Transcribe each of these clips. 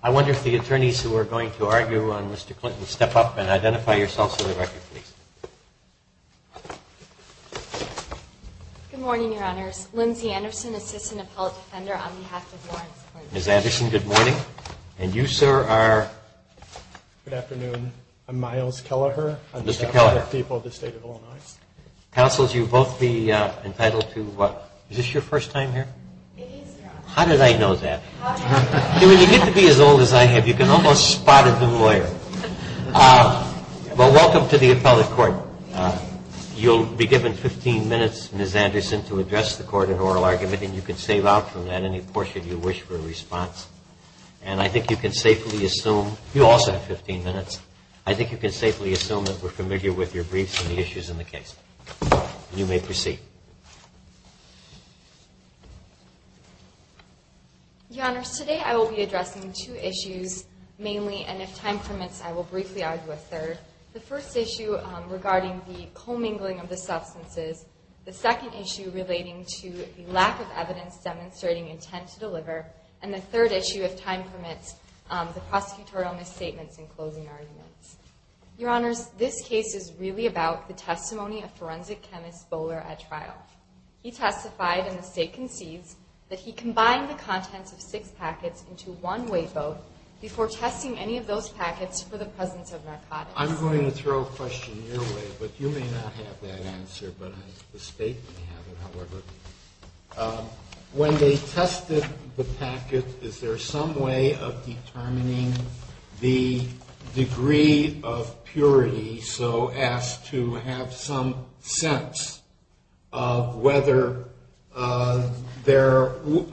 I wonder if the attorneys who are going to argue on Mr. Clinton step up and identify yourselves for the record, please. Good morning, Your Honors. Lindsay Anderson, Assistant Appellate Defender on behalf of Lawrence Courts. Ms. Anderson, good morning. And you, sir, are? Good afternoon. I'm Miles Kelleher. I'm the Chief Justice of the people of the State of Illinois. Counsel, you both be entitled to what? Is this your first time here? It is, Your Honor. How did I know that? How did I know that? When you get to be as old as I have, you can almost spot a new lawyer. Well, welcome to the appellate court. You'll be given 15 minutes, Ms. Anderson, to address the court in oral argument, and you can save out from that any portion you wish for a response. And I think you can safely assume – you also have 15 minutes – I think you can safely assume that we're familiar with your briefs and the issues in the case. You may proceed. Your Honors, today I will be addressing two issues mainly, and if time permits, I will briefly argue a third. The first issue regarding the commingling of the substances, the second issue relating to the lack of evidence demonstrating intent to deliver, and the third issue, if time permits, the prosecutorial misstatements in closing arguments. Your Honors, this case is really about the testimony of forensic chemist Bowler at trial. He testified, and the State concedes, that he combined the contents of six packets into one weight boat before testing any of those packets for the presence of narcotics. I'm going to throw a question your way, but you may not have that answer, but the State may have it, however. When they tested the packet, is there some way of determining the degree of purity so as to have some sense of whether there would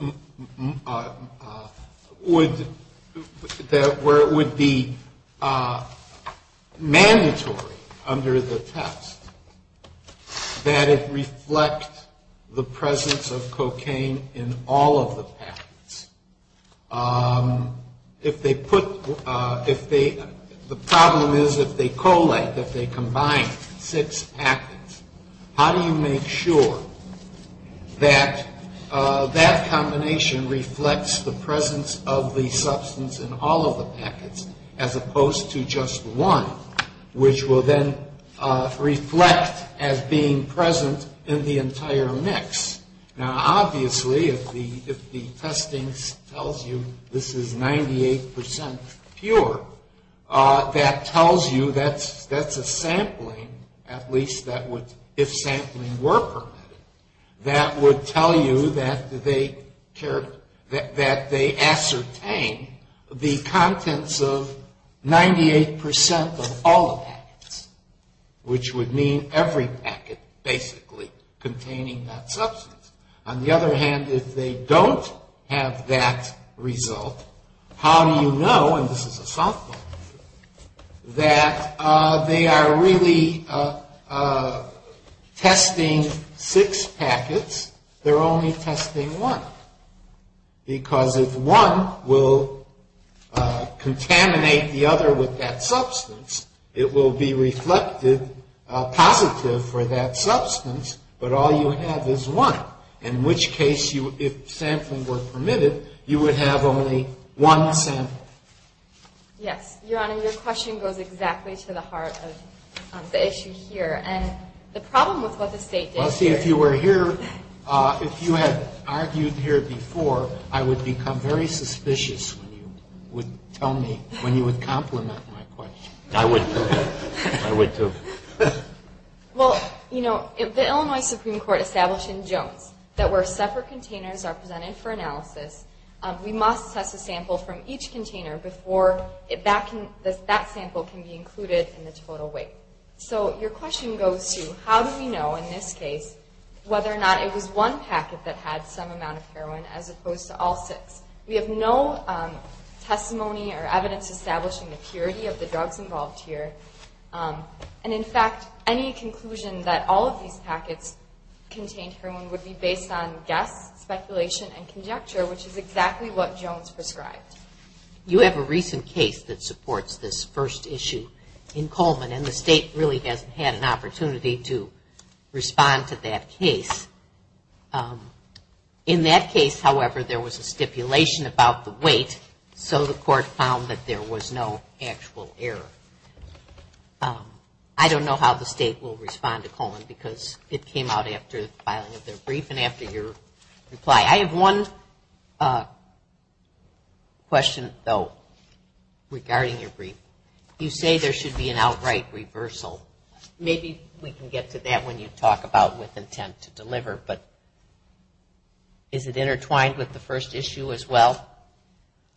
– the presence of cocaine in all of the packets? The problem is if they collate, if they combine six packets, how do you make sure that that combination reflects the presence of the substance in all of the packets as opposed to just one, which will then reflect as being present in the entire mix? Now, obviously, if the testing tells you this is 98 percent pure, that tells you that's a sampling, at least if sampling were permitted, that would tell you that they ascertain the contents of 98 percent of all the packets, which would mean every packet basically containing that substance. On the other hand, if they don't have that result, how do you know – and this is a softball – that they are really testing six packets, they're only testing one? Because if one will contaminate the other with that substance, it will be reflected positive for that substance, but all you have is one, in which case if sampling were permitted, you would have only one sample. Yes, Your Honor, your question goes exactly to the heart of the issue here. And the problem with what the State did here is – Well, see, if you were here – if you had argued here before, I would become very suspicious when you would tell me – when you would complement my question. I would, too. I would, too. Well, you know, the Illinois Supreme Court established in Jones that where separate containers are presented for analysis, we must test a sample from each container before that sample can be included in the total weight. So your question goes to, how do we know in this case whether or not it was one packet that had some amount of heroin as opposed to all six? We have no testimony or evidence establishing the purity of the drugs involved here. And in fact, any conclusion that all of these packets contained heroin would be based on guess, speculation, and conjecture, which is exactly what Jones prescribed. You have a recent case that supports this first issue in Coleman, and the State really hasn't had an opportunity to respond to that case. In that case, however, there was a stipulation about the weight, so the Court found that there was no actual error. I don't know how the State will respond to Coleman because it came out after the filing of their brief and after your reply. I have one question, though, regarding your brief. You say there should be an outright reversal. Maybe we can get to that when you talk about with intent to deliver, but is it intertwined with the first issue as well?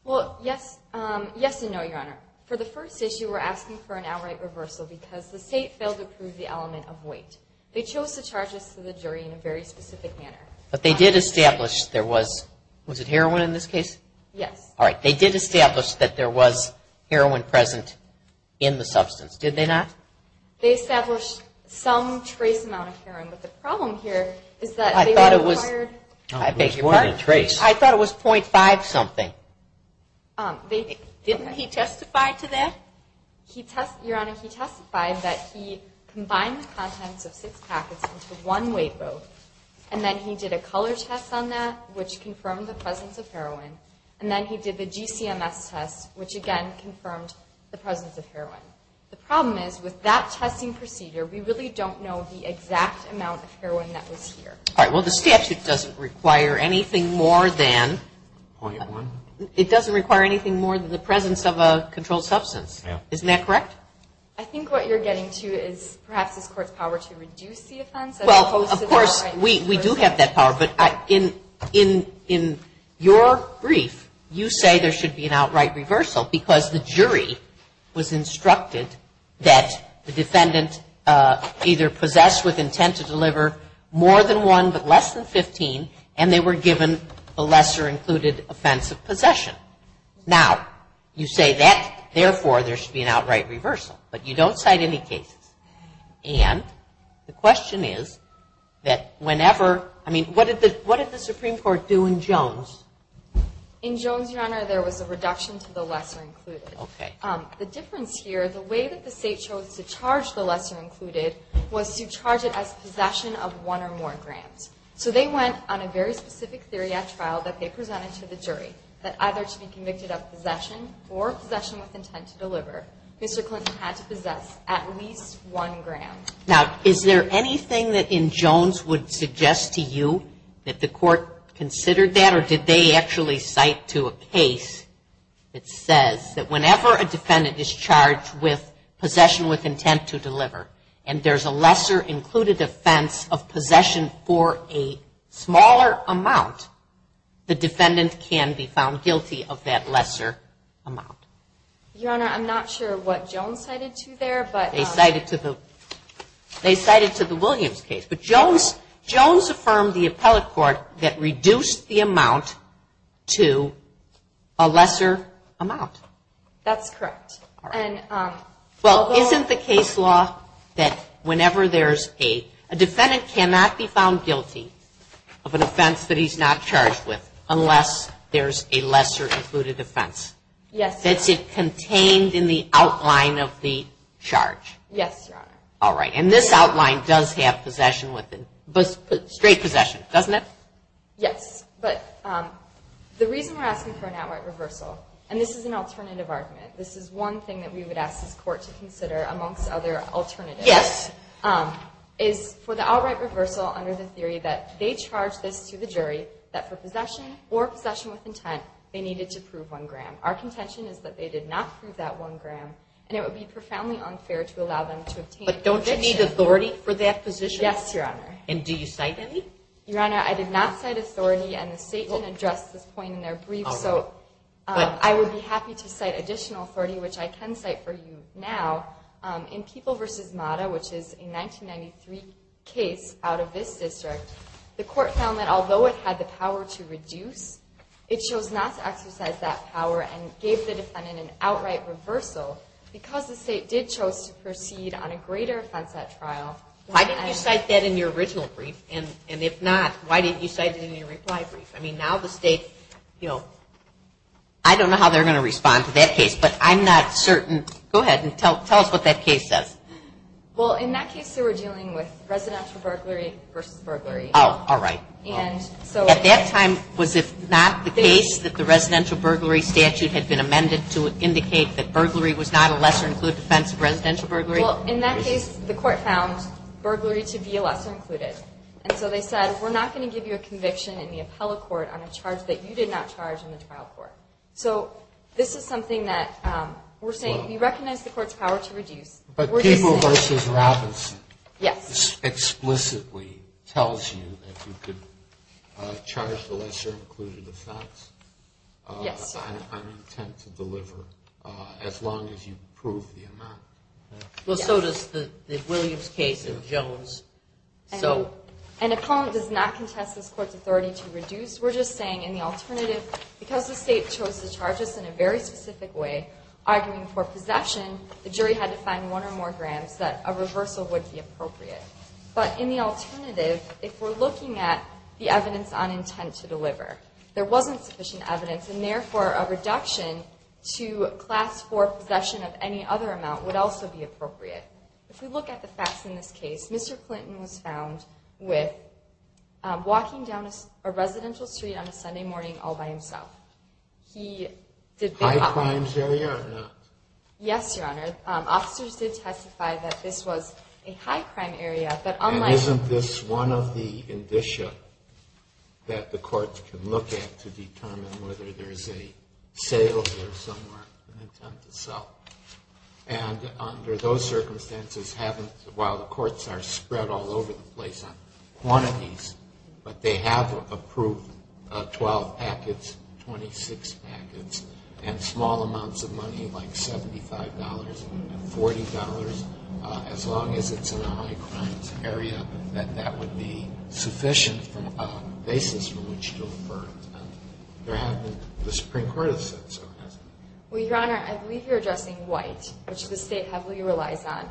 Well, yes and no, Your Honor. For the first issue, we're asking for an outright reversal because the State failed to prove the element of weight. They chose to charge us to the jury in a very specific manner. But they did establish there was – was it heroin in this case? Yes. All right. They did establish that there was heroin present in the substance, did they not? They established some trace amount of heroin, but the problem here is that they required – I thought it was – I beg your pardon? I thought it was .5 something. Didn't he testify to that? Your Honor, he testified that he combined the contents of six packets into one weight row, and then he did a color test on that, which confirmed the presence of heroin, and then he did the GCMS test, which, again, confirmed the presence of heroin. The problem is with that testing procedure, we really don't know the exact amount of heroin that was here. All right. Well, the statute doesn't require anything more than – .1? It doesn't require anything more than the presence of a controlled substance. Yeah. Isn't that correct? I think what you're getting to is perhaps this Court's power to reduce the offense as opposed to – Of course, we do have that power, but in your brief, you say there should be an outright reversal because the jury was instructed that the defendant either possessed with intent to deliver more than one but less than 15, and they were given the lesser included offense of possession. Now, you say that, therefore, there should be an outright reversal, but you don't cite any cases. And the question is that whenever – I mean, what did the Supreme Court do in Jones? In Jones, Your Honor, there was a reduction to the lesser included. Okay. The difference here, the way that the state chose to charge the lesser included was to charge it as possession of one or more grams. So they went on a very specific theory at trial that they presented to the jury, Mr. Clinton had to possess at least one gram. Now, is there anything that in Jones would suggest to you that the Court considered that, or did they actually cite to a case that says that whenever a defendant is charged with possession with intent to deliver and there's a lesser included offense of possession for a smaller amount, the defendant can be found guilty of that lesser amount? Your Honor, I'm not sure what Jones cited to there. They cited to the Williams case. But Jones affirmed the appellate court that reduced the amount to a lesser amount. That's correct. Well, isn't the case law that whenever there's a – a defendant cannot be found guilty of an offense that he's not charged with unless there's a lesser included offense? Yes, Your Honor. That's it contained in the outline of the charge? Yes, Your Honor. All right. And this outline does have possession with – straight possession, doesn't it? Yes. But the reason we're asking for an outright reversal, and this is an alternative argument, this is one thing that we would ask this Court to consider amongst other alternatives. Is for the outright reversal under the theory that they charged this to the jury, that for possession or possession with intent, they needed to prove one gram. Our contention is that they did not prove that one gram, and it would be profoundly unfair to allow them to obtain a position. But don't you need authority for that position? Yes, Your Honor. And do you cite any? Your Honor, I did not cite authority, and the State didn't address this point in their brief, so I would be happy to cite additional authority, which I can cite for you now. In People v. Mata, which is a 1993 case out of this district, the Court found that although it had the power to reduce, it chose not to exercise that power and gave the defendant an outright reversal because the State did chose to proceed on a greater offense at trial. Why didn't you cite that in your original brief? And if not, why didn't you cite it in your reply brief? I mean, now the State, you know, I don't know how they're going to respond to that case, but I'm not certain. Go ahead and tell us what that case says. Well, in that case, they were dealing with residential burglary v. burglary. Oh, all right. At that time, was it not the case that the residential burglary statute had been amended to indicate that burglary was not a lesser-included offense of residential burglary? Well, in that case, the Court found burglary to be a lesser-included. And so they said, we're not going to give you a conviction in the appellate court on a charge that you did not charge in the trial court. So this is something that we're saying we recognize the Court's power to reduce. But Peeble v. Robinson explicitly tells you that you could charge the lesser-included offense. Yes. I'm intent to deliver as long as you prove the amount. Well, so does the Williams case and Jones. An opponent does not contest this Court's authority to reduce. We're just saying in the alternative, because the State chose to charge us in a very specific way, arguing for possession, the jury had to find one or more grams that a reversal would be appropriate. But in the alternative, if we're looking at the evidence on intent to deliver, there wasn't sufficient evidence, and therefore, a reduction to Class IV possession of any other amount would also be appropriate. If we look at the facts in this case, Mr. Clinton was found with walking down a residential street on a Sunday morning all by himself. High-crimes area or not? Yes, Your Honor. Officers did testify that this was a high-crime area. And isn't this one of the indicia that the courts can look at to determine whether there's a sale here somewhere, an intent to sell? And under those circumstances, while the courts are spread all over the place on quantities, but they have approved 12 packets, 26 packets, and small amounts of money like $75 and $40, as long as it's in a high-crimes area, that that would be sufficient basis for which to affirm. The Supreme Court has said so, hasn't it? Well, Your Honor, I believe you're addressing white, which the State heavily relies on.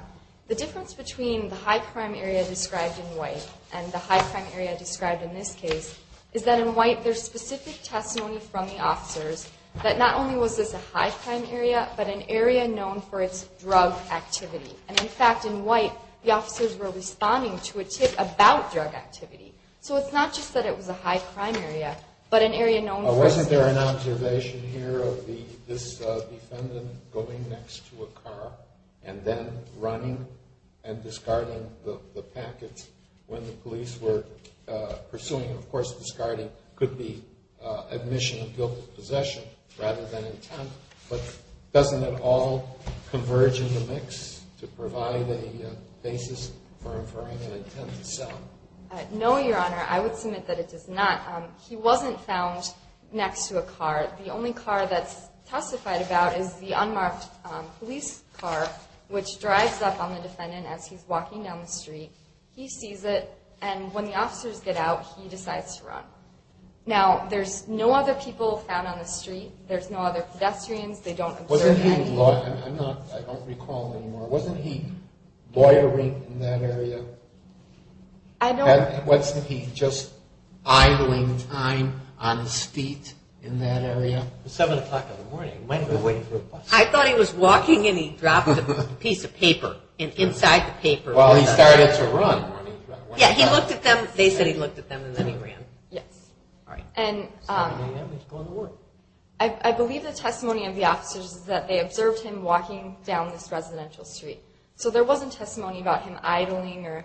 The difference between the high-crime area described in white and the high-crime area described in this case is that in white, there's specific testimony from the officers that not only was this a high-crime area, but an area known for its drug activity. And, in fact, in white, the officers were responding to a tip about drug activity. So it's not just that it was a high-crime area, but an area known for its... and then running and discarding the packets when the police were pursuing. Of course, discarding could be admission of guilt of possession rather than intent. But doesn't it all converge in the mix to provide a basis for affirming an intent to sell? No, Your Honor. I would submit that it does not. He wasn't found next to a car. The only car that's testified about is the unmarked police car, which drives up on the defendant as he's walking down the street. He sees it, and when the officers get out, he decides to run. Now, there's no other people found on the street. There's no other pedestrians. They don't observe any... Wasn't he... I'm not... I don't recall anymore. Wasn't he loitering in that area? I don't... Wasn't he just idling time on his feet in that area? It was 7 o'clock in the morning. He might have been waiting for a bus. I thought he was walking, and he dropped a piece of paper inside the paper. Well, he started to run. Yeah, he looked at them. They said he looked at them, and then he ran. Yes. All right. 7 a.m., he's going to work. I believe the testimony of the officers is that they observed him walking down this residential street. So there wasn't testimony about him idling or...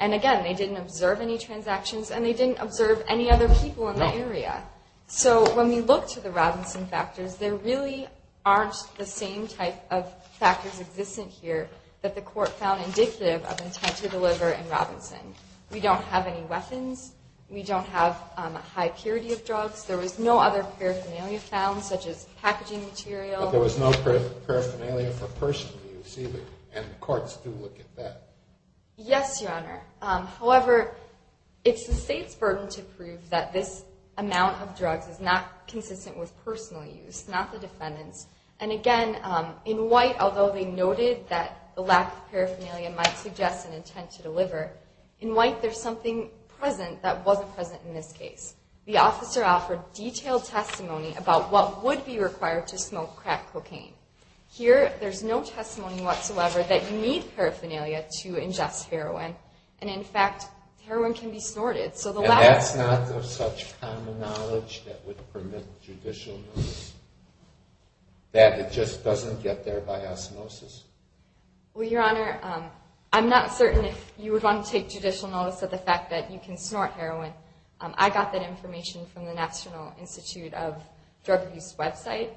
And, again, they didn't observe any transactions, and they didn't observe any other people in the area. No. So when we look to the Robinson factors, there really aren't the same type of factors existent here that the court found indicative of intent to deliver in Robinson. We don't have any weapons. We don't have a high purity of drugs. There was no other paraphernalia found, such as packaging material. But there was no paraphernalia for personally receiving, and courts do look at that. Yes, Your Honor. However, it's the state's burden to prove that this amount of drugs is not consistent with personal use, not the defendant's. And, again, in white, although they noted that the lack of paraphernalia might suggest an intent to deliver, in white, there's something present that wasn't present in this case. The officer offered detailed testimony about what would be required to smoke crack cocaine. Here, there's no testimony whatsoever that you need paraphernalia to ingest heroin, and, in fact, heroin can be snorted. And that's not of such common knowledge that would permit judicial notice, that it just doesn't get there by osmosis? Well, Your Honor, I'm not certain if you would want to take judicial notice of the fact that you can snort heroin. I got that information from the National Institute of Drug Abuse website.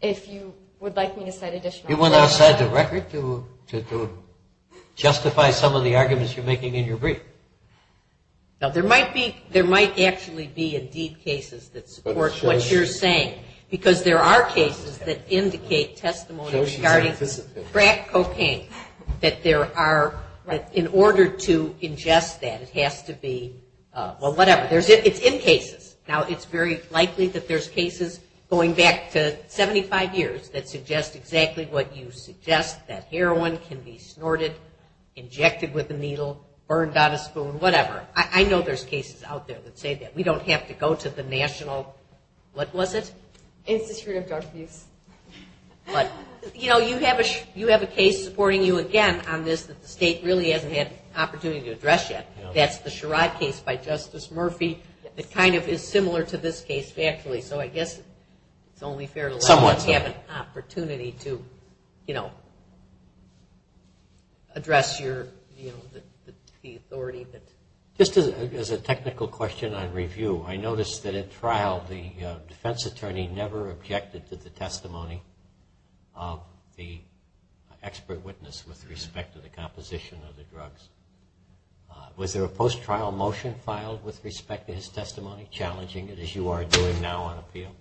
If you would like me to cite additional evidence. You went outside the record to justify some of the arguments you're making in your brief. Now, there might actually be, indeed, cases that support what you're saying, because there are cases that indicate testimony regarding crack cocaine, that in order to ingest that, it has to be, well, whatever. It's in cases. Now, it's very likely that there's cases going back to 75 years that suggest exactly what you suggest, that heroin can be snorted, injected with a needle, burned on a spoon, whatever. I know there's cases out there that say that. We don't have to go to the National, what was it? Institute of Drug Abuse. But, you know, you have a case supporting you again on this that the state really hasn't had an opportunity to address yet. That's the Sherrod case by Justice Murphy. It kind of is similar to this case, factually. So I guess it's only fair to let someone have an opportunity to, you know, address your, you know, the authority. Just as a technical question on review, I noticed that at trial the defense attorney never objected to the testimony of the expert witness with respect to the composition of the drugs. Was there a post-trial motion filed with respect to his testimony challenging it as you are doing now on appeal?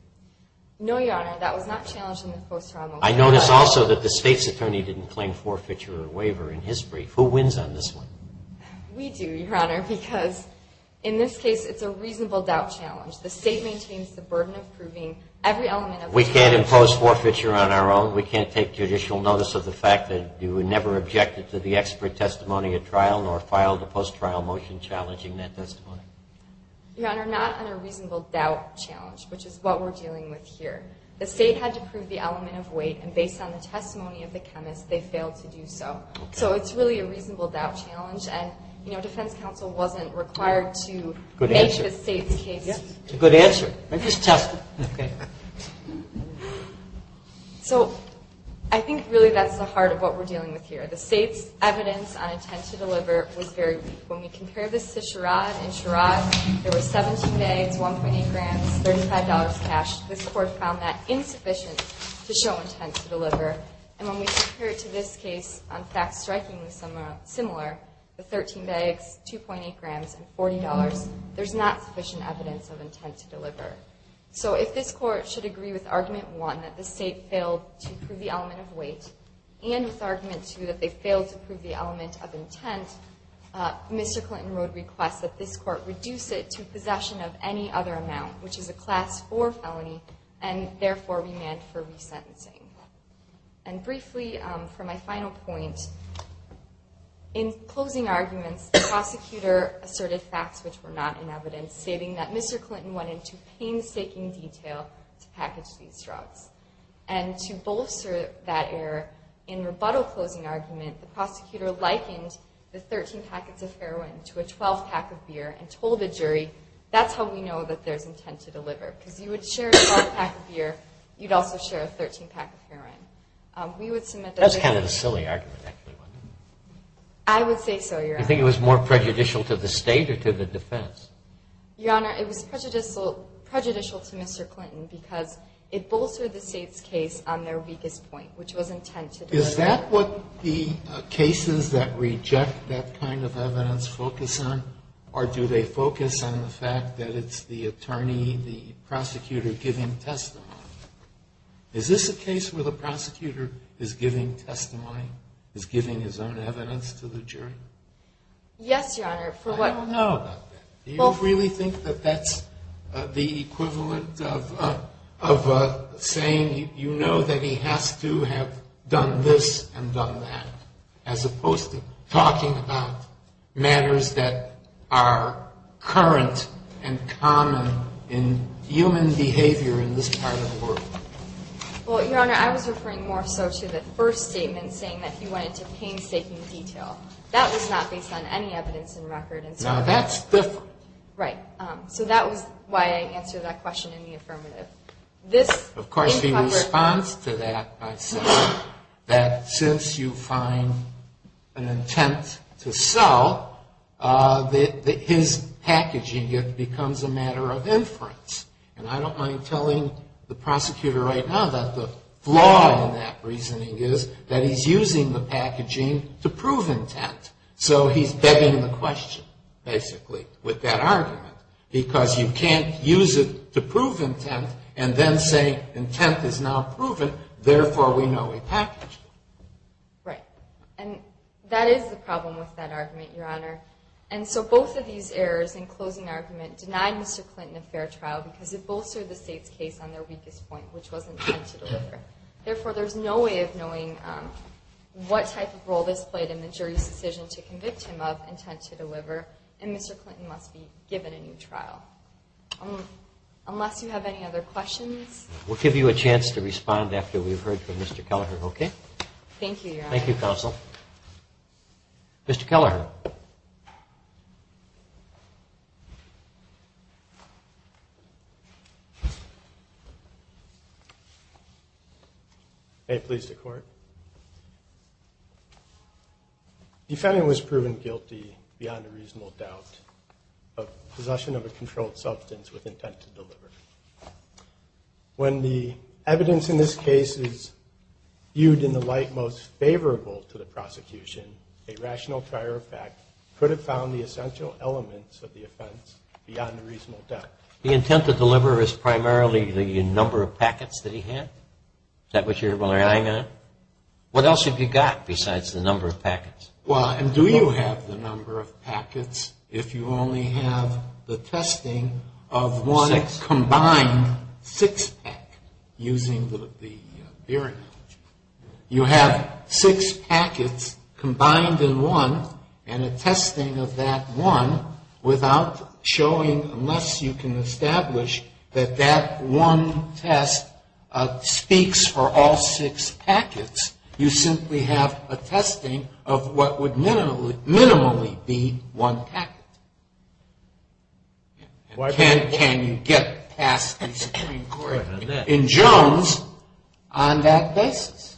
No, Your Honor. That was not challenged in the post-trial motion. I noticed also that the state's attorney didn't claim forfeiture or waiver in his brief. Who wins on this one? We do, Your Honor, because in this case it's a reasonable doubt challenge. The state maintains the burden of proving every element of the charge. We can't impose forfeiture on our own. We can't take judicial notice of the fact that you never objected to the expert testimony at trial nor filed a post-trial motion challenging that testimony. Your Honor, not on a reasonable doubt challenge, which is what we're dealing with here. The state had to prove the element of weight, and based on the testimony of the chemist, they failed to do so. So it's really a reasonable doubt challenge, and, you know, defense counsel wasn't required to make the state's case. It's a good answer. Just test it. So I think really that's the heart of what we're dealing with here. The state's evidence on intent to deliver was very weak. When we compare this to Sherrod, in Sherrod there were 17 bags, 1.8 grams, $35 cash. This Court found that insufficient to show intent to deliver. And when we compare it to this case on facts strikingly similar, the 13 bags, 2.8 grams, and $40, there's not sufficient evidence of intent to deliver. So if this Court should agree with Argument 1, that the state failed to prove the element of weight, and with Argument 2, that they failed to prove the element of intent, Mr. Clinton wrote requests that this Court reduce it to possession of any other amount, which is a Class 4 felony, and therefore remand for resentencing. And briefly, for my final point, in closing arguments, the prosecutor asserted facts which were not in evidence, stating that Mr. Clinton went into painstaking detail to package these drugs. And to bolster that error, in rebuttal closing argument, the prosecutor likened the 13 packets of heroin to a 12-pack of beer, and told the jury, that's how we know that there's intent to deliver. Because you would share a 12-pack of beer, you'd also share a 13-pack of heroin. We would submit that the jury... That's kind of a silly argument, actually. I would say so, Your Honor. I think it was more prejudicial to the State or to the defense. Your Honor, it was prejudicial to Mr. Clinton, because it bolstered the State's case on their weakest point, which was intent to deliver. Is that what the cases that reject that kind of evidence focus on, or do they focus on the fact that it's the attorney, the prosecutor, giving testimony? Is this a case where the prosecutor is giving testimony, is giving his own evidence to the jury? Yes, Your Honor. I don't know about that. Do you really think that that's the equivalent of saying, you know that he has to have done this and done that, as opposed to talking about matters that are current and common in human behavior in this part of the world? Well, Your Honor, I was referring more so to the first statement, saying that he went into painstaking detail. That was not based on any evidence in record. Now, that's different. Right. So that was why I answered that question in the affirmative. Of course, he responds to that by saying that since you find an intent to sell, his packaging becomes a matter of inference. And I don't mind telling the prosecutor right now that the flaw in that reasoning is that he's using the packaging to prove intent. So he's begging the question, basically, with that argument, because you can't use it to prove intent and then say intent is now proven, therefore we know a package. Right. And that is the problem with that argument, Your Honor. And so both of these errors in closing argument denied Mr. Clinton a fair trial because it bolstered the State's case on their weakest point, which was intent to deliver. Therefore, there's no way of knowing what type of role this played in the jury's decision to convict him of intent to deliver, and Mr. Clinton must be given a new trial. Unless you have any other questions? We'll give you a chance to respond after we've heard from Mr. Kelleher, okay? Thank you, Your Honor. Thank you, Counsel. Mr. Kelleher. May it please the Court? Defending was proven guilty beyond a reasonable doubt of possession of a controlled substance with intent to deliver. When the evidence in this case is viewed in the light most favorable to the prosecution, a rational prior effect could have found the essential elements of the offense beyond a reasonable doubt. The intent to deliver is primarily the number of packets that he had? Is that what you're relying on? What else have you got besides the number of packets? Well, and do you have the number of packets if you only have the testing of one combined six-pack, using the theory? You have six packets combined in one, and a testing of that one without showing, unless you can establish that that one test speaks for all six packets. You simply have a testing of what would minimally be one packet. Can you get past the Supreme Court in Jones on that basis?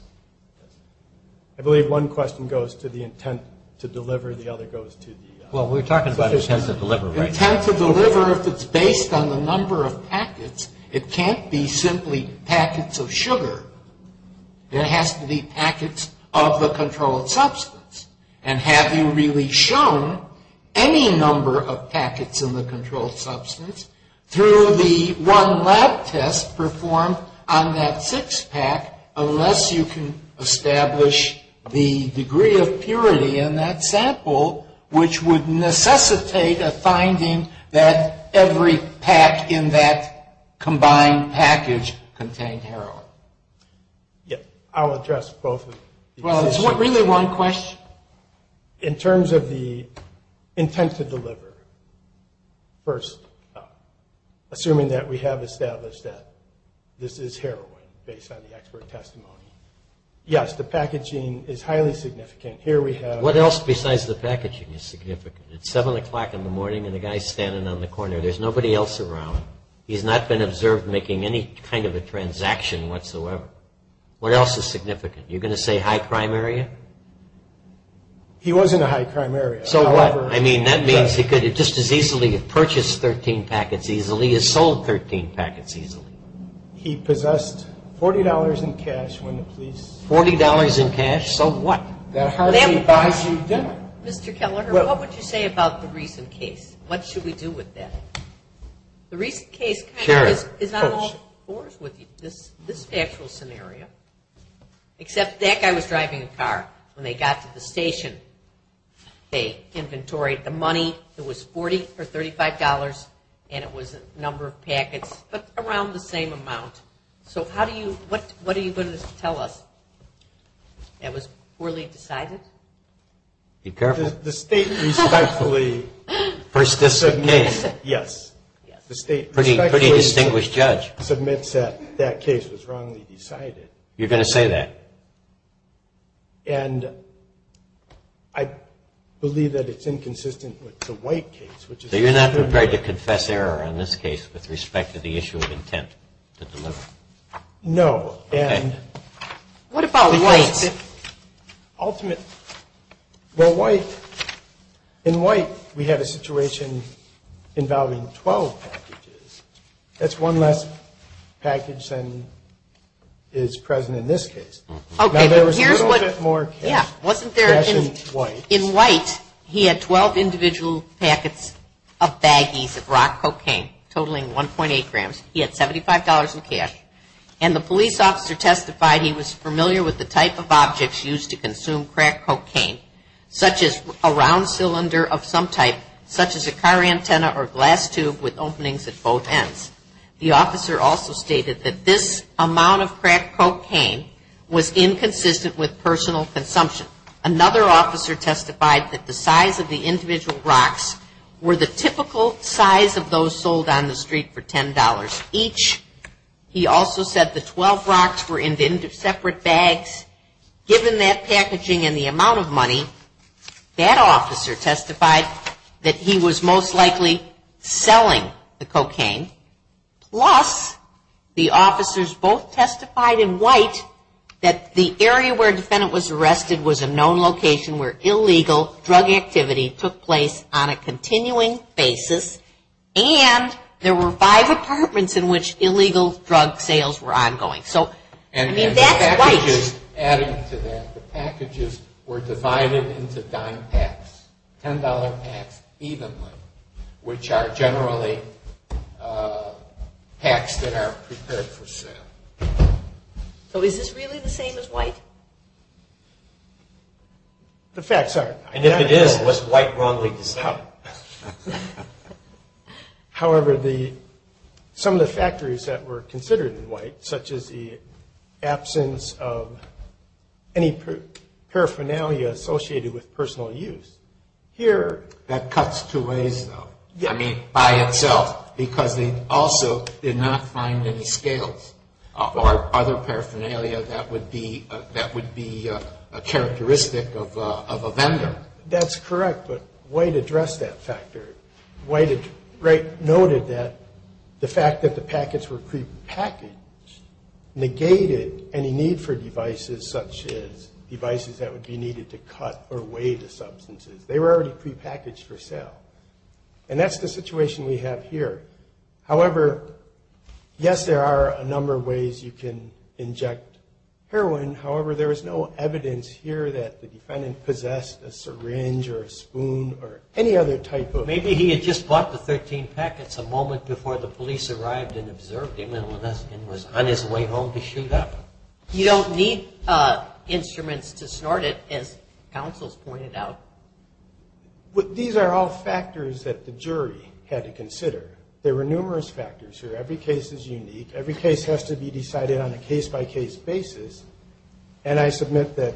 I believe one question goes to the intent to deliver. The other goes to the? Well, we're talking about intent to deliver, right? Intent to deliver, if it's based on the number of packets, it can't be simply packets of sugar. There has to be packets of the controlled substance. And have you really shown any number of packets in the controlled substance through the one lab test performed on that six-pack, unless you can establish the degree of purity in that sample, which would necessitate a finding that every pack in that combined package contained heroin? Yes. I'll address both of these issues. Well, it's really one question? In terms of the intent to deliver, first, assuming that we have established that this is heroin, based on the expert testimony, yes, the packaging is highly significant. What else besides the packaging is significant? It's 7 o'clock in the morning and the guy's standing on the corner. There's nobody else around. He's not been observed making any kind of a transaction whatsoever. What else is significant? You're going to say high crime area? He was in a high crime area. So what? I mean, that means he could just as easily have purchased 13 packets easily as sold 13 packets easily. He possessed $40 in cash when the police? $40 in cash? So what? That hardly buys you dinner. Mr. Kelleher, what would you say about the recent case? What should we do with that? The recent case is not all fours with you, this actual scenario, except that guy was driving a car when they got to the station. They inventoried the money. It was $40 or $35, and it was a number of packets, but around the same amount. So what are you going to tell us? It was poorly decided? Be careful. The state respectfully submits. First case. Yes. The state respectfully submits that that case was wrongly decided. You're going to say that? And I believe that it's inconsistent with the White case. So you're not prepared to confess error on this case with respect to the issue of intent to deliver? No. Okay. What about White? Well, White, in White, we had a situation involving 12 packages. That's one less package than is present in this case. Now, there was a little bit more cash in White. In White, he had 12 individual packets of baggies of rock cocaine, totaling 1.8 grams. He had $75 in cash. And the police officer testified he was familiar with the type of objects used to consume crack cocaine, such as a round cylinder of some type, such as a car antenna or glass tube with openings at both ends. The officer also stated that this amount of crack cocaine was inconsistent with personal consumption. Another officer testified that the size of the individual rocks were the typical size of those sold on the street for $10. Each, he also said the 12 rocks were in separate bags. Given that packaging and the amount of money, that officer testified that he was most likely selling the cocaine. Plus, the officers both testified in White that the area where a defendant was arrested was a known location where illegal drug activity took place on a continuing basis. And there were five apartments in which illegal drug sales were ongoing. So, I mean, that's White. And the packages added to that, the packages were divided into dime packs, $10 packs, even one, which are generally packs that are prepared for sale. So is this really the same as White? The facts are. And if it is, what's White wrongly to say? However, some of the factors that were considered in White, such as the absence of any paraphernalia associated with personal use, here. That cuts two ways, though. I mean, by itself, because they also did not find any scales or other paraphernalia that would be a characteristic of a vendor. That's correct, but White addressed that factor. White noted that the fact that the packets were prepackaged negated any need for devices, such as devices that would be needed to cut or weigh the substances. They were already prepackaged for sale. And that's the situation we have here. However, yes, there are a number of ways you can inject heroin. However, there is no evidence here that the defendant possessed a syringe or a spoon or any other type of ---- Maybe he had just bought the 13 packets a moment before the police arrived and observed him and was on his way home to shoot up. You don't need instruments to snort it, as counsels pointed out. These are all factors that the jury had to consider. There were numerous factors here. Every case is unique. Every case has to be decided on a case-by-case basis. And I submit that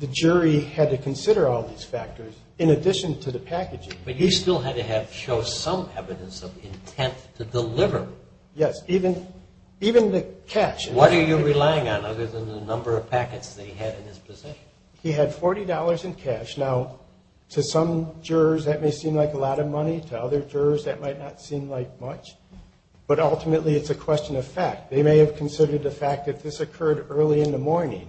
the jury had to consider all these factors in addition to the packaging. But you still had to show some evidence of intent to deliver. Yes, even the catch. What are you relying on other than the number of packets that he had in his possession? He had $40 in cash. Now, to some jurors, that may seem like a lot of money. To other jurors, that might not seem like much. But ultimately, it's a question of fact. They may have considered the fact that this occurred early in the morning.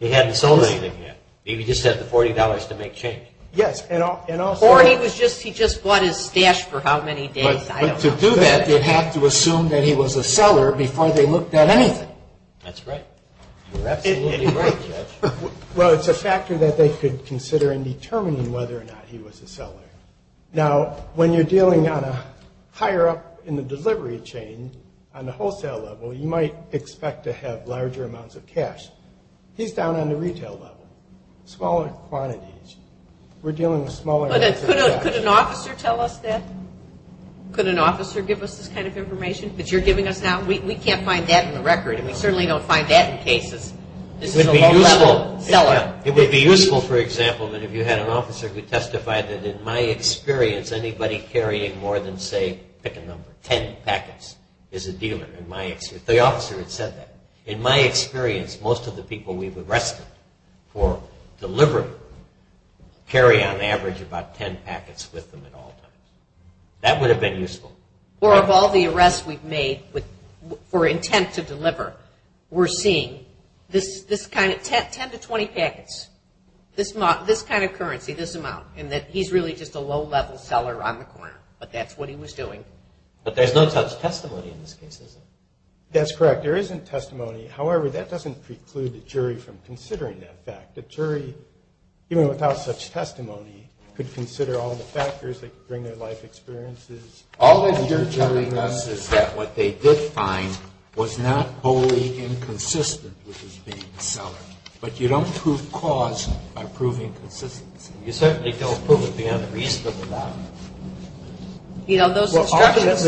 He hadn't sold anything yet. Maybe he just had the $40 to make change. Yes. Or he just bought his stash for how many days, I don't know. But to do that, they have to assume that he was a seller before they looked at anything. That's right. You're absolutely right, Judge. Well, it's a factor that they could consider in determining whether or not he was a seller. Now, when you're dealing on a higher up in the delivery chain, on the wholesale level, you might expect to have larger amounts of cash. He's down on the retail level, smaller quantities. We're dealing with smaller amounts of cash. Could an officer tell us that? Could an officer give us this kind of information that you're giving us now? We can't find that in the record, and we certainly don't find that in cases. This is a low-level seller. It would be useful, for example, if you had an officer who testified that, in my experience, anybody carrying more than, say, pick a number, 10 packets is a dealer. The officer had said that. In my experience, most of the people we've arrested for delivery carry, on average, about 10 packets with them at all times. That would have been useful. Or of all the arrests we've made for intent to deliver, we're seeing this kind of 10 to 20 packets, this kind of currency, this amount, and that he's really just a low-level seller on the corner. But that's what he was doing. But there's no such testimony in this case, is there? That's correct. There isn't testimony. However, that doesn't preclude the jury from considering that fact. The jury, even without such testimony, could consider all the factors that could bring their life experiences. All that you're telling us is that what they did find was not wholly inconsistent with his being a seller. But you don't prove cause by proving consistency. You certainly don't prove it beyond the reason of the matter. You know, those instructions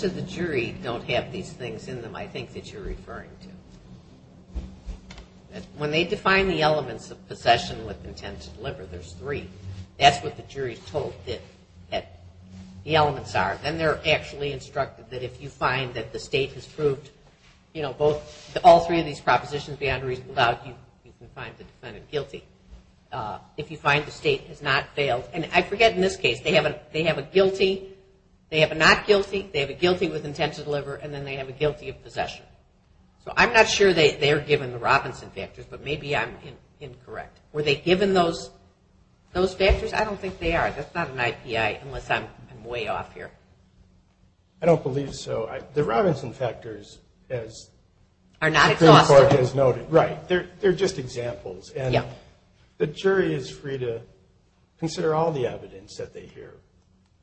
to the jury don't have these things in them, I think, that you're referring to. When they define the elements of possession with intent to deliver, there's three. That's what the jury's told that the elements are. Then they're actually instructed that if you find that the state has proved, you know, all three of these propositions beyond a reasonable doubt, you can find the defendant guilty. If you find the state has not failed, and I forget in this case, they have a guilty, they have a not guilty, they have a guilty with intent to deliver, and then they have a guilty of possession. So I'm not sure they're given the Robinson factors, but maybe I'm incorrect. Were they given those factors? I don't think they are. That's not an IPI unless I'm way off here. I don't believe so. The Robinson factors, as the Supreme Court has noted, right, they're just examples. And the jury is free to consider all the evidence that they hear.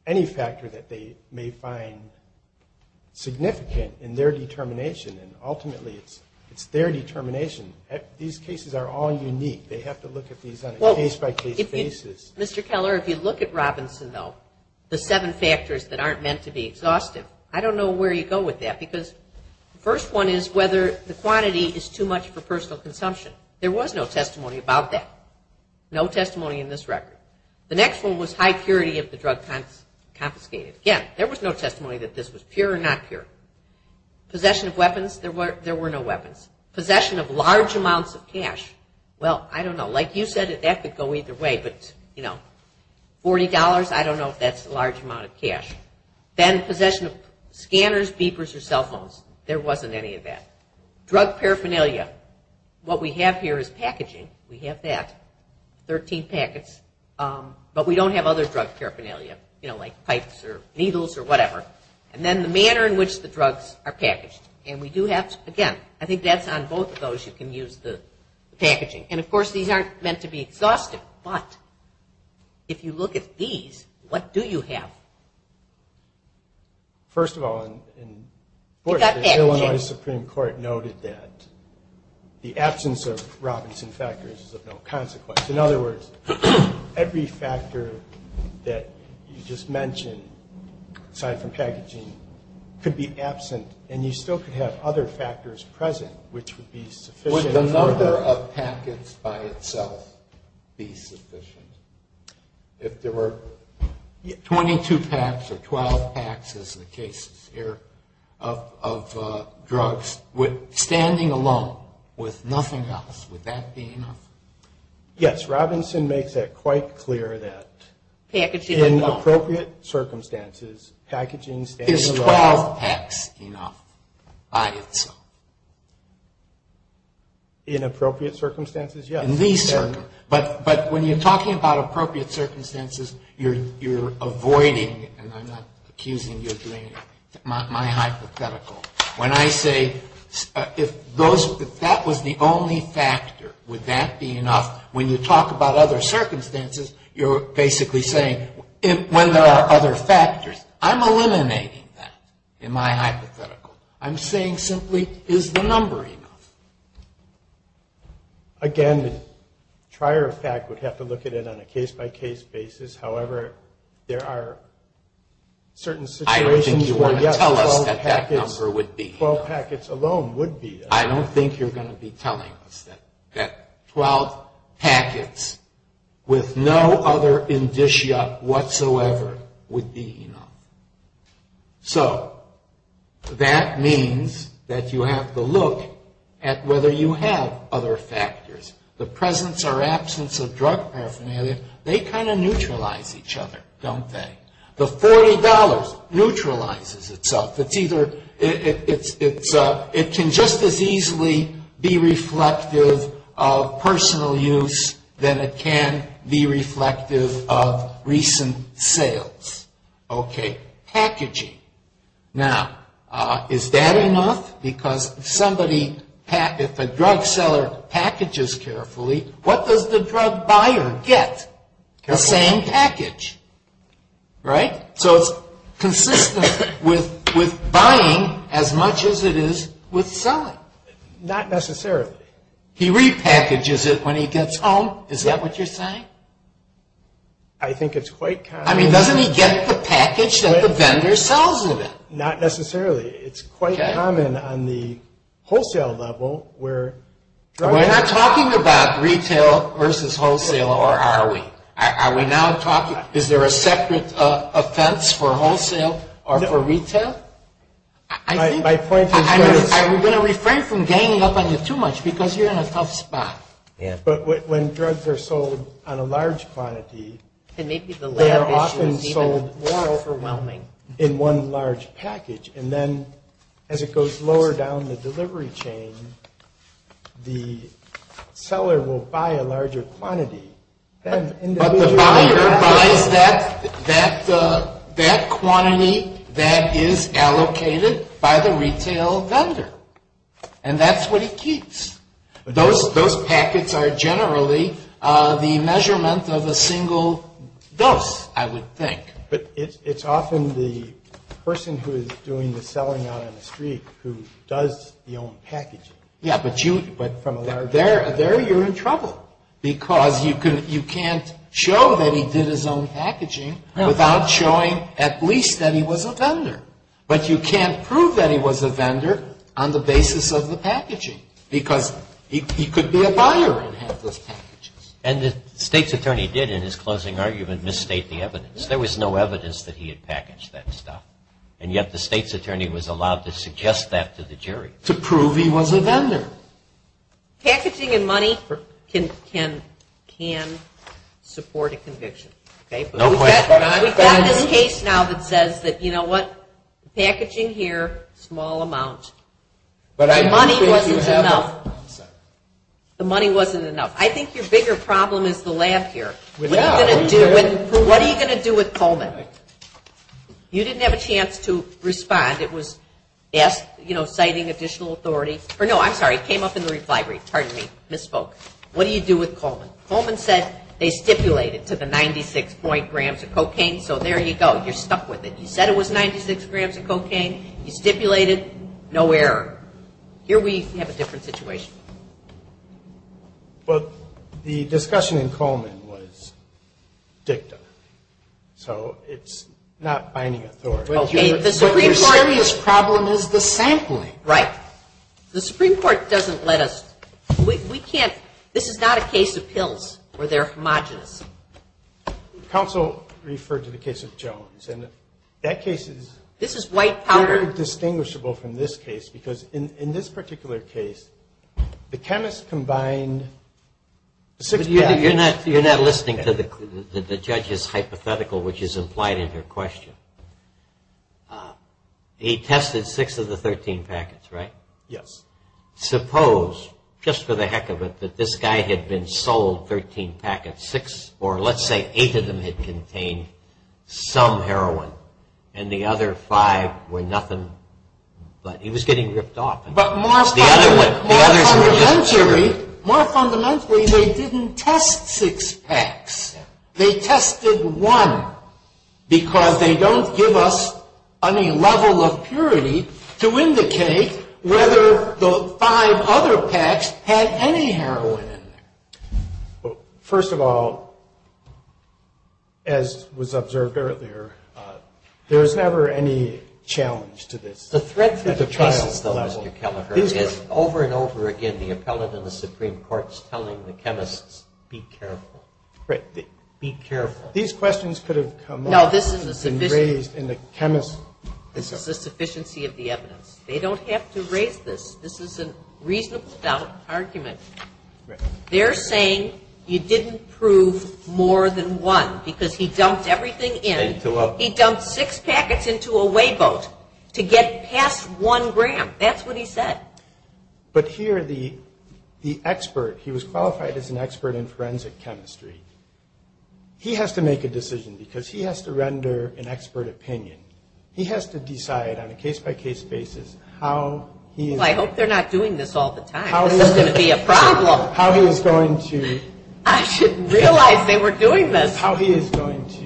Any factor that they may find significant in their determination, and ultimately it's their determination. These cases are all unique. They have to look at these on a case-by-case basis. Mr. Keller, if you look at Robinson, though, the seven factors that aren't meant to be exhaustive, I don't know where you go with that because the first one is whether the quantity is too much for personal consumption. There was no testimony about that, no testimony in this record. The next one was high purity of the drug confiscated. Again, there was no testimony that this was pure or not pure. Possession of weapons, there were no weapons. Possession of large amounts of cash, well, I don't know. Like you said, that could go either way. But, you know, $40, I don't know if that's a large amount of cash. Then possession of scanners, beepers, or cell phones, there wasn't any of that. Drug paraphernalia, what we have here is packaging. We have that. Thirteen packets. But we don't have other drug paraphernalia, you know, like pipes or needles or whatever. And then the manner in which the drugs are packaged. And we do have, again, I think that's on both of those you can use the packaging. And, of course, these aren't meant to be exhaustive. But if you look at these, what do you have? First of all, of course, the Illinois Supreme Court noted that the absence of Robinson factors is of no consequence. In other words, every factor that you just mentioned, aside from packaging, could be absent. And you still could have other factors present, which would be sufficient. Would the number of packets by itself be sufficient? If there were 22 packs or 12 packs, as the case is here, of drugs, standing alone with nothing else, would that be enough? Yes. Robinson makes it quite clear that in appropriate circumstances, packaging stands alone. Is 12 packs enough by itself? In appropriate circumstances, yes. In these circumstances. But when you're talking about appropriate circumstances, you're avoiding, and I'm not accusing you of doing my hypothetical. When I say, if that was the only factor, would that be enough? When you talk about other circumstances, you're basically saying, when there are other factors. I'm eliminating that in my hypothetical. I'm saying simply, is the number enough? Again, the trier of fact would have to look at it on a case-by-case basis. However, there are certain situations where, yes, 12 packets alone would be enough. I don't think you're going to be telling us that 12 packets with no other indicia whatsoever would be enough. So that means that you have to look at whether you have other factors. The presence or absence of drug paraphernalia, they kind of neutralize each other, don't they? The $40 neutralizes itself. It can just as easily be reflective of personal use than it can be reflective of recent sales. Packaging. Now, is that enough? Because if a drug seller packages carefully, what does the drug buyer get? The same package, right? So it's consistent with buying as much as it is with selling. Not necessarily. He repackages it when he gets home. Is that what you're saying? I think it's quite common. I mean, doesn't he get the package that the vendor sells him? Not necessarily. It's quite common on the wholesale level where drugs are sold. We're not talking about retail versus wholesale, or are we? Are we now talking, is there a separate offense for wholesale or for retail? My point is this. I'm going to refrain from ganging up on you too much because you're in a tough spot. But when drugs are sold on a large quantity, they are often sold in one large package. And then as it goes lower down the delivery chain, the seller will buy a larger quantity. But the buyer buys that quantity that is allocated by the retail vendor. And that's what he keeps. Those packets are generally the measurement of a single dose, I would think. But it's often the person who is doing the selling on the street who does the own packaging. Yeah, but there you're in trouble because you can't show that he did his own packaging without showing at least that he was a vendor. But you can't prove that he was a vendor on the basis of the packaging because he could be a buyer and have those packages. And the state's attorney did, in his closing argument, misstate the evidence. There was no evidence that he had packaged that stuff. And yet the state's attorney was allowed to suggest that to the jury. To prove he was a vendor. Packaging and money can support a conviction. We've got this case now that says that, you know what, packaging here, small amount. The money wasn't enough. I think your bigger problem is the lab here. What are you going to do with Coleman? You didn't have a chance to respond. It was citing additional authority. Or no, I'm sorry, it came up in the reply brief. Pardon me, misspoke. What do you do with Coleman? Coleman said they stipulated to the 96 point grams of cocaine. You're stuck with it. You said it was 96 grams of cocaine. You stipulated. No error. Here we have a different situation. Well, the discussion in Coleman was dicta. So it's not binding authority. But your serious problem is the sampling. Right. The Supreme Court doesn't let us. We can't. This is not a case of pills where they're homogenous. Counsel referred to the case of Jones. And that case is very distinguishable from this case because in this particular case, the chemist combined the six packets. You're not listening to the judge's hypothetical, which is implied in her question. He tested six of the 13 packets, right? Yes. Suppose, just for the heck of it, that this guy had been sold 13 packets, six or let's say eight of them had contained some heroin, and the other five were nothing but he was getting ripped off. But more fundamentally, they didn't test six packs. They tested one because they don't give us any level of purity to indicate whether the five other packs had any heroin in them. First of all, as was observed earlier, there is never any challenge to this. The threat to the trial, though, Mr. Kelleher, is over and over again the appellate and the Supreme Court's telling the chemists, be careful. Right. Be careful. These questions could have come up and raised in the chemist's. This is the sufficiency of the evidence. They don't have to raise this. This is a reasonable doubt argument. They're saying you didn't prove more than one because he dumped everything in. He dumped six packets into a wayboat to get past one gram. That's what he said. But here the expert, he was qualified as an expert in forensic chemistry, he has to make a decision because he has to render an expert opinion. He has to decide on a case-by-case basis how he is going to do it. Well, I hope they're not doing this all the time. This is going to be a problem. How he is going to... I didn't realize they were doing this. How he is going to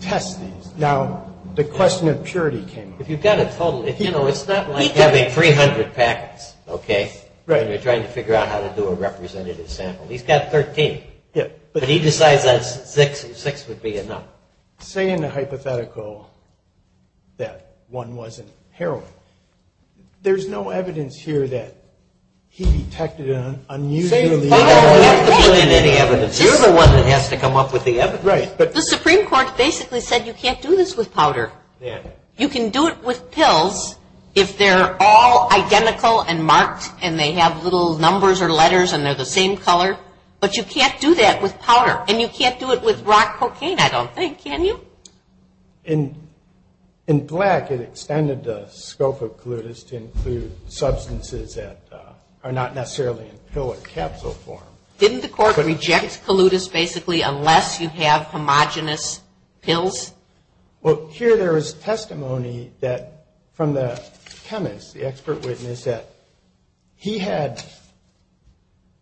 test these. Now, the question of purity came up. If you've got a total, you know, it's not like having 300 packets, okay, and you're trying to figure out how to do a representative sample. He's got 13, but he decides that six would be enough. Now, say in a hypothetical that one wasn't heroin. There's no evidence here that he detected an unusually... You don't have to put in any evidence. You're the one that has to come up with the evidence. Right. The Supreme Court basically said you can't do this with powder. You can do it with pills if they're all identical and marked and they have little numbers or letters and they're the same color, but you can't do that with powder. And you can't do it with rock cocaine, I don't think. Can you? In black, it extended the scope of colutus to include substances that are not necessarily in pill or capsule form. Didn't the court reject colutus basically unless you have homogenous pills? Well, here there is testimony that from the chemist, the expert witness, that he had,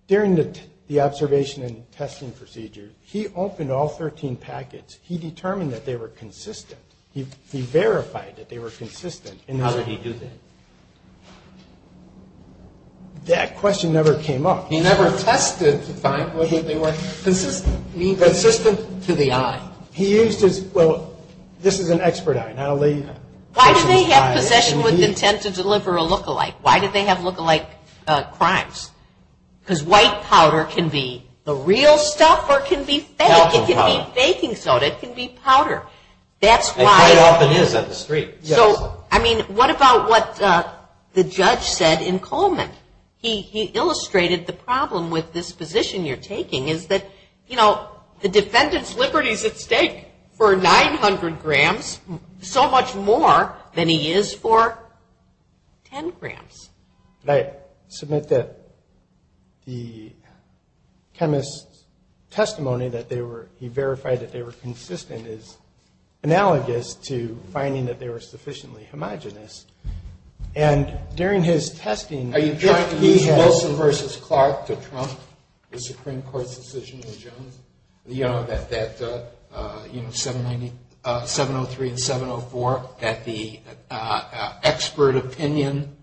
during the observation and testing procedure, he opened all 13 packets. He determined that they were consistent. He verified that they were consistent. And how did he do that? That question never came up. He never tested to find whether they were consistent. Consistent to the eye. He used his.. .well, this is an expert eye. Why do they have possession with intent to deliver a lookalike? Why do they have lookalike crimes? Because white powder can be the real stuff or it can be fake. It can be baking soda. It can be powder. It quite often is on the street. So, I mean, what about what the judge said in Coleman? The defendant's liberty is at stake for 900 grams, so much more than he is for 10 grams. I submit that the chemist's testimony that he verified that they were consistent is analogous to finding that they were sufficiently homogenous. And during his testing... Are you trying to use Wilson v. Clark to trump the Supreme Court's decision in Jones? You know, that, you know, 703 and 704, that the expert opinion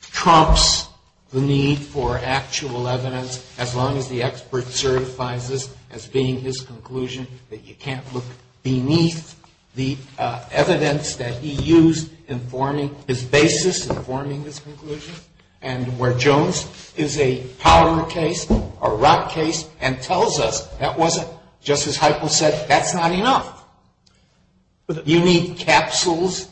trumps the need for actual evidence as long as the expert certifies this as being his conclusion, that you can't look beneath the evidence that he used in forming his basis, in forming his conclusion. And where Jones is a powder case, a rot case, and tells us that wasn't... Justice Heitkamp said, that's not enough. You need capsules,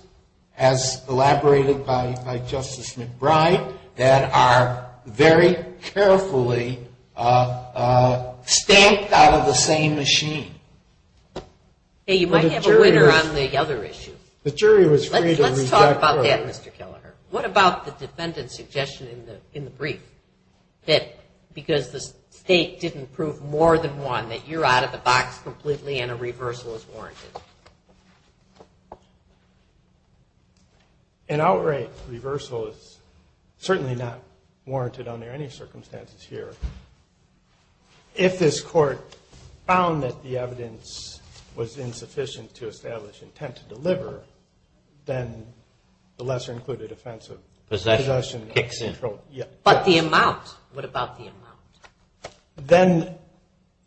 as elaborated by Justice McBride, that are very carefully stamped out of the same machine. Hey, you might have a winner on the other issue. The jury was free to reject... Let's talk about that, Mr. Kelleher. What about the defendant's suggestion in the brief, that because the state didn't prove more than one, that you're out of the box completely and a reversal is warranted? An outright reversal is certainly not warranted under any circumstances here. If this Court found that the evidence was insufficient to establish intent to deliver, then the lesser-included offense of possession kicks in. But the amount, what about the amount?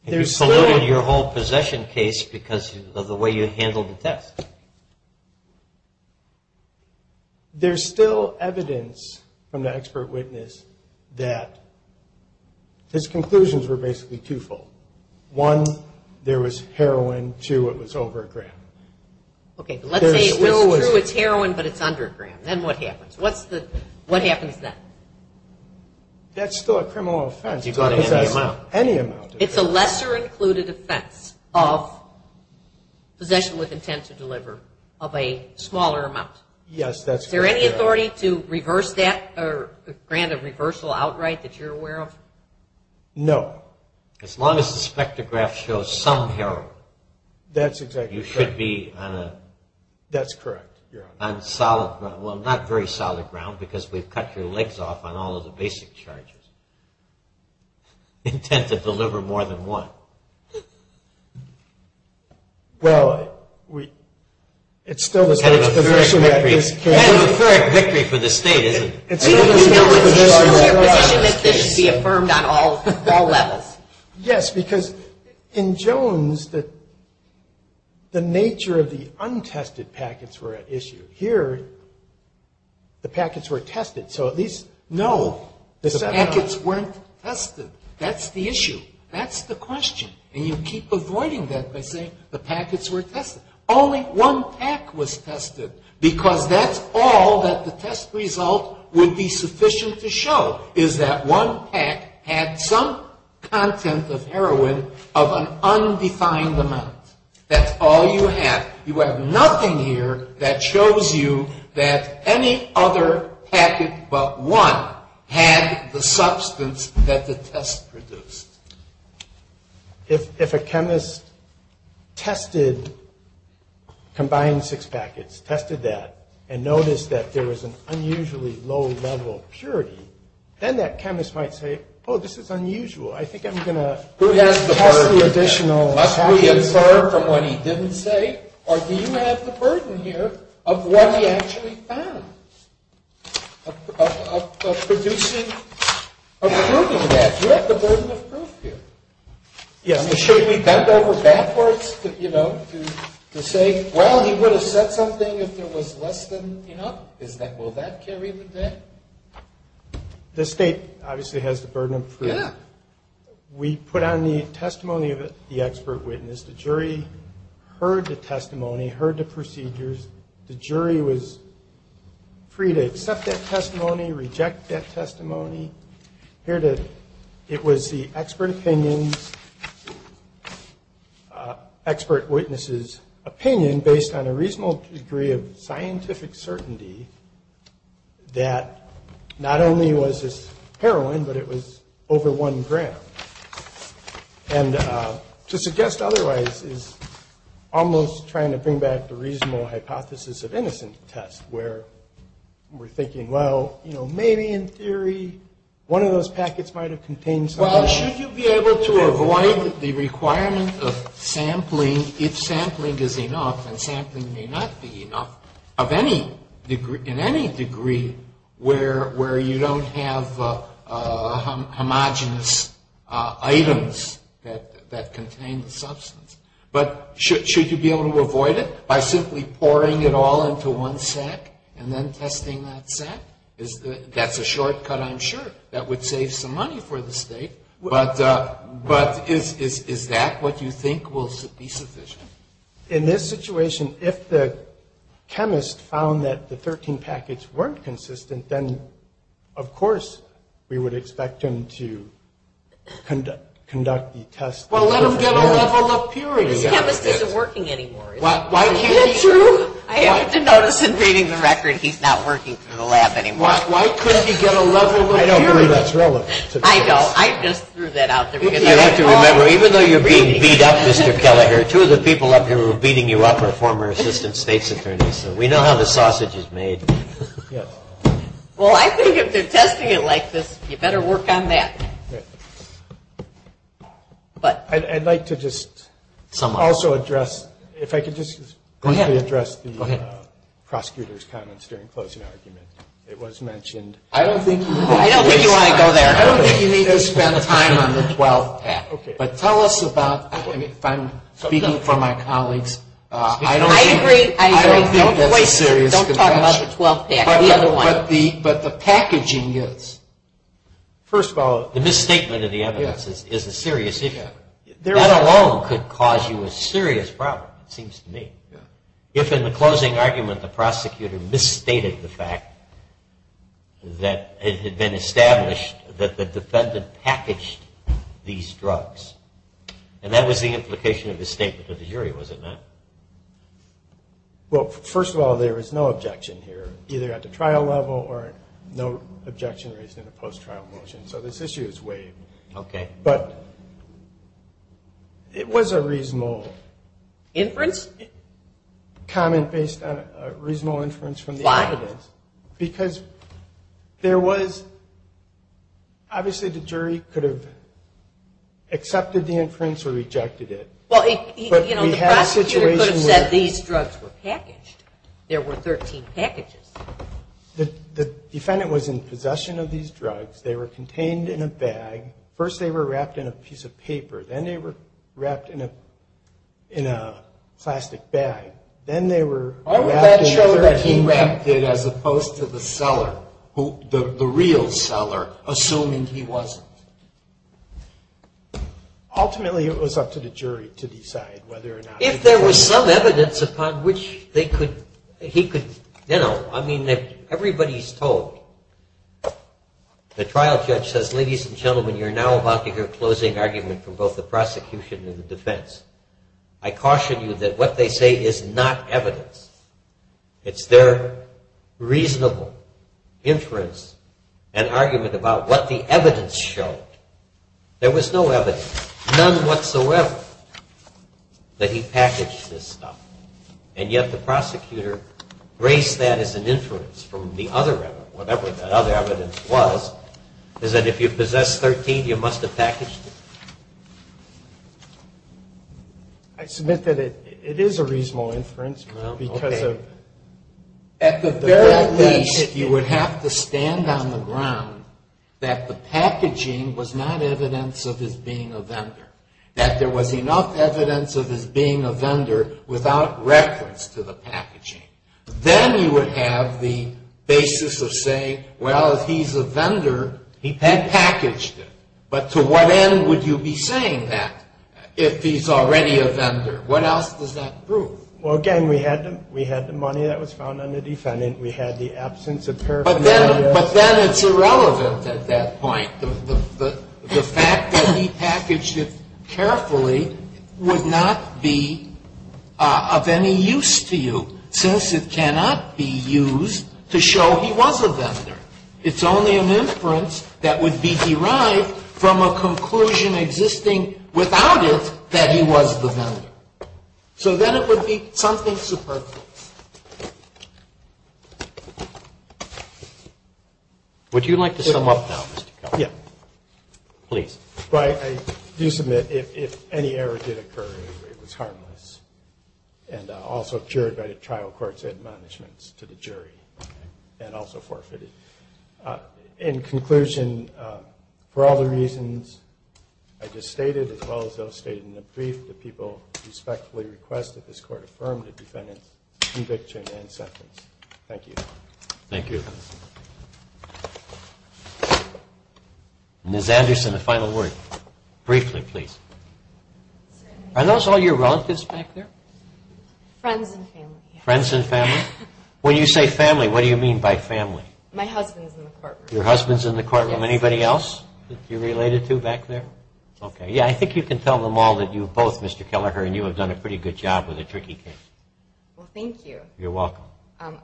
You polluted your whole possession case because of the way you handled the test. There's still evidence from the expert witness that his conclusions were basically twofold. One, there was heroin. Two, it was over a gram. Okay, but let's say it's true, it's heroin, but it's under a gram. Then what happens? What happens then? That's still a criminal offense. Because that's any amount. It's a lesser-included offense of possession with intent to deliver of a smaller amount. Yes, that's correct. Is there any authority to reverse that or grant a reversal outright that you're aware of? No. As long as the spectrograph shows some heroin. That's exactly correct. You should be on a solid ground. Well, not very solid ground because we've cut your legs off on all of the basic charges. Intent to deliver more than one. Well, it's still the state's position. A third victory for the state, isn't it? It's still the state's position that this should be affirmed on all levels. Yes, because in Jones, the nature of the untested packets were at issue. Here, the packets were tested. So at least, no, the packets weren't tested. That's the issue. That's the question. And you keep avoiding that by saying the packets were tested. Only one pack was tested because that's all that the test result would be sufficient to show, is that one pack had some content of heroin of an undefined amount. That's all you have. You have nothing here that shows you that any other packet but one had the substance that the test produced. If a chemist tested, combined six packets, tested that, and noticed that there was an unusually low level of purity, then that chemist might say, oh, this is unusual. I think I'm going to test the additional packets. Who has the burden here? Must we infer from what he didn't say? Or do you have the burden here of what he actually found, of producing, of proving that? You have the burden of proof here. Should we bend over backwards to say, well, he would have said something if there was less than enough? Will that carry with that? The state obviously has the burden of proof. We put on the testimony of the expert witness. The jury heard the testimony, heard the procedures. The jury was free to accept that testimony, reject that testimony. It was the expert witness's opinion, based on a reasonable degree of scientific certainty, that not only was this heroin, but it was over one gram. And to suggest otherwise is almost trying to bring back the reasonable hypothesis of innocent test, where we're thinking, well, you know, maybe in theory one of those packets might have contained something. Well, should you be able to avoid the requirement of sampling if sampling is enough? And sampling may not be enough in any degree where you don't have homogenous items that contain the substance. But should you be able to avoid it by simply pouring it all into one sack and then testing that sack? That's a shortcut, I'm sure, that would save some money for the state. But is that what you think will be sufficient? In this situation, if the chemist found that the 13 packets weren't consistent, then, of course, we would expect him to conduct the test. Well, let him get a level of purity. This chemist isn't working anymore. I have to notice in reading the record, he's not working for the lab anymore. Why couldn't he get a level of purity? I don't think that's relevant. I know. I just threw that out there. You have to remember, even though you're being beat up, Mr. Kelleher, two of the people up here who are beating you up are former assistant state's attorneys. We know how the sausage is made. Well, I think if they're testing it like this, you better work on that. I'd like to just also address, if I could just briefly address the prosecutor's comments during closing argument. It was mentioned. I don't think you want to go there. I don't think you need to spend time on the 12th. But tell us about, if I'm speaking for my colleagues, I agree, I agree. Don't talk about the 12th package. But the packaging is. First of all, the misstatement of the evidence is a serious issue. That alone could cause you a serious problem, it seems to me. If in the closing argument, the prosecutor misstated the fact that it had been established that the defendant packaged these drugs, and that was the implication of the statement of the jury, was it not? Well, first of all, there is no objection here, either at the trial level or no objection raised in the post-trial motion. So this issue is waived. Okay. But it was a reasonable. Inference? Comment based on a reasonable inference from the evidence. Why? Because there was, obviously the jury could have accepted the inference or rejected it. Well, you know, the prosecutor could have said these drugs were packaged. There were 13 packages. The defendant was in possession of these drugs. They were contained in a bag. First they were wrapped in a piece of paper. Then they were wrapped in a plastic bag. Why would that show that he wrapped it as opposed to the seller, the real seller, assuming he wasn't? Ultimately, it was up to the jury to decide whether or not to do that. If there was some evidence upon which he could, you know, I mean, everybody's told. The trial judge says, ladies and gentlemen, you're now about to hear a closing argument from both the prosecution and the defense. I caution you that what they say is not evidence. It's their reasonable inference and argument about what the evidence showed. There was no evidence, none whatsoever, that he packaged this stuff. And yet the prosecutor graced that as an inference from the other evidence, whatever that other evidence was, is that if you possess 13, you must have packaged it. I submit that it is a reasonable inference because of. At the very least, you would have to stand on the ground that the packaging was not evidence of his being a vendor, that there was enough evidence of his being a vendor without reference to the packaging. Then you would have the basis of saying, well, if he's a vendor, he packaged it. But to what end would you be saying that if he's already a vendor? What else does that prove? Well, again, we had the money that was found on the defendant. We had the absence of paraphernalia. But then it's irrelevant at that point. The fact that he packaged it carefully would not be of any use to you. Since it cannot be used to show he was a vendor. It's only an inference that would be derived from a conclusion existing without it that he was the vendor. So then it would be something superfluous. Roberts. Would you like to sum up now, Mr. Kelly? Yeah. Please. I do submit if any error did occur, it was harmless. And also cured by the trial court's admonishments to the jury. And also forfeited. In conclusion, for all the reasons I just stated, as well as those stated in the brief, the people respectfully request that this Court affirm the defendant's conviction and sentence. Thank you. Thank you. Very good. Ms. Anderson, a final word. Briefly, please. Are those all your relatives back there? Friends and family. Friends and family. When you say family, what do you mean by family? My husband's in the courtroom. Your husband's in the courtroom. Anybody else that you're related to back there? Okay. Yeah, I think you can tell them all that you both, Mr. Kelleher, and you have done a pretty good job with a tricky case. Well, thank you. You're welcome.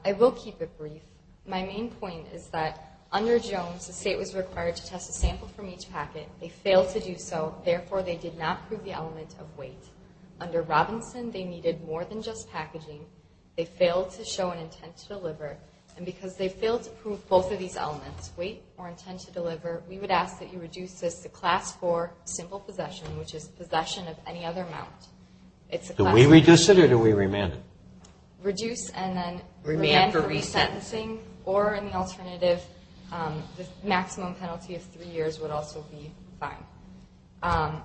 I will keep it brief. My main point is that under Jones, the State was required to test a sample from each packet. They failed to do so. Therefore, they did not prove the element of weight. Under Robinson, they needed more than just packaging. They failed to show an intent to deliver. And because they failed to prove both of these elements, weight or intent to deliver, we would ask that you reduce this to Class IV, simple possession, which is possession of any other amount. Do we reduce it or do we remand it? Reduce and then remand for resentencing. Or, in the alternative, the maximum penalty of three years would also be fine.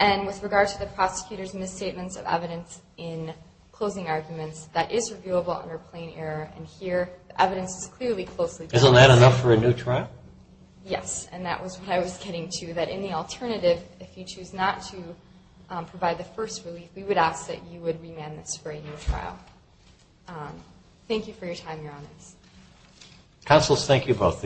And with regard to the prosecutor's misstatements of evidence in closing arguments, that is reviewable under plain error. And here, the evidence is clearly closely placed. Isn't that enough for a new trial? Yes, and that was what I was getting to. That in the alternative, if you choose not to provide the first relief, we would ask that you would remand this for a new trial. Thank you for your time, Your Honors. Counselors, thank you both.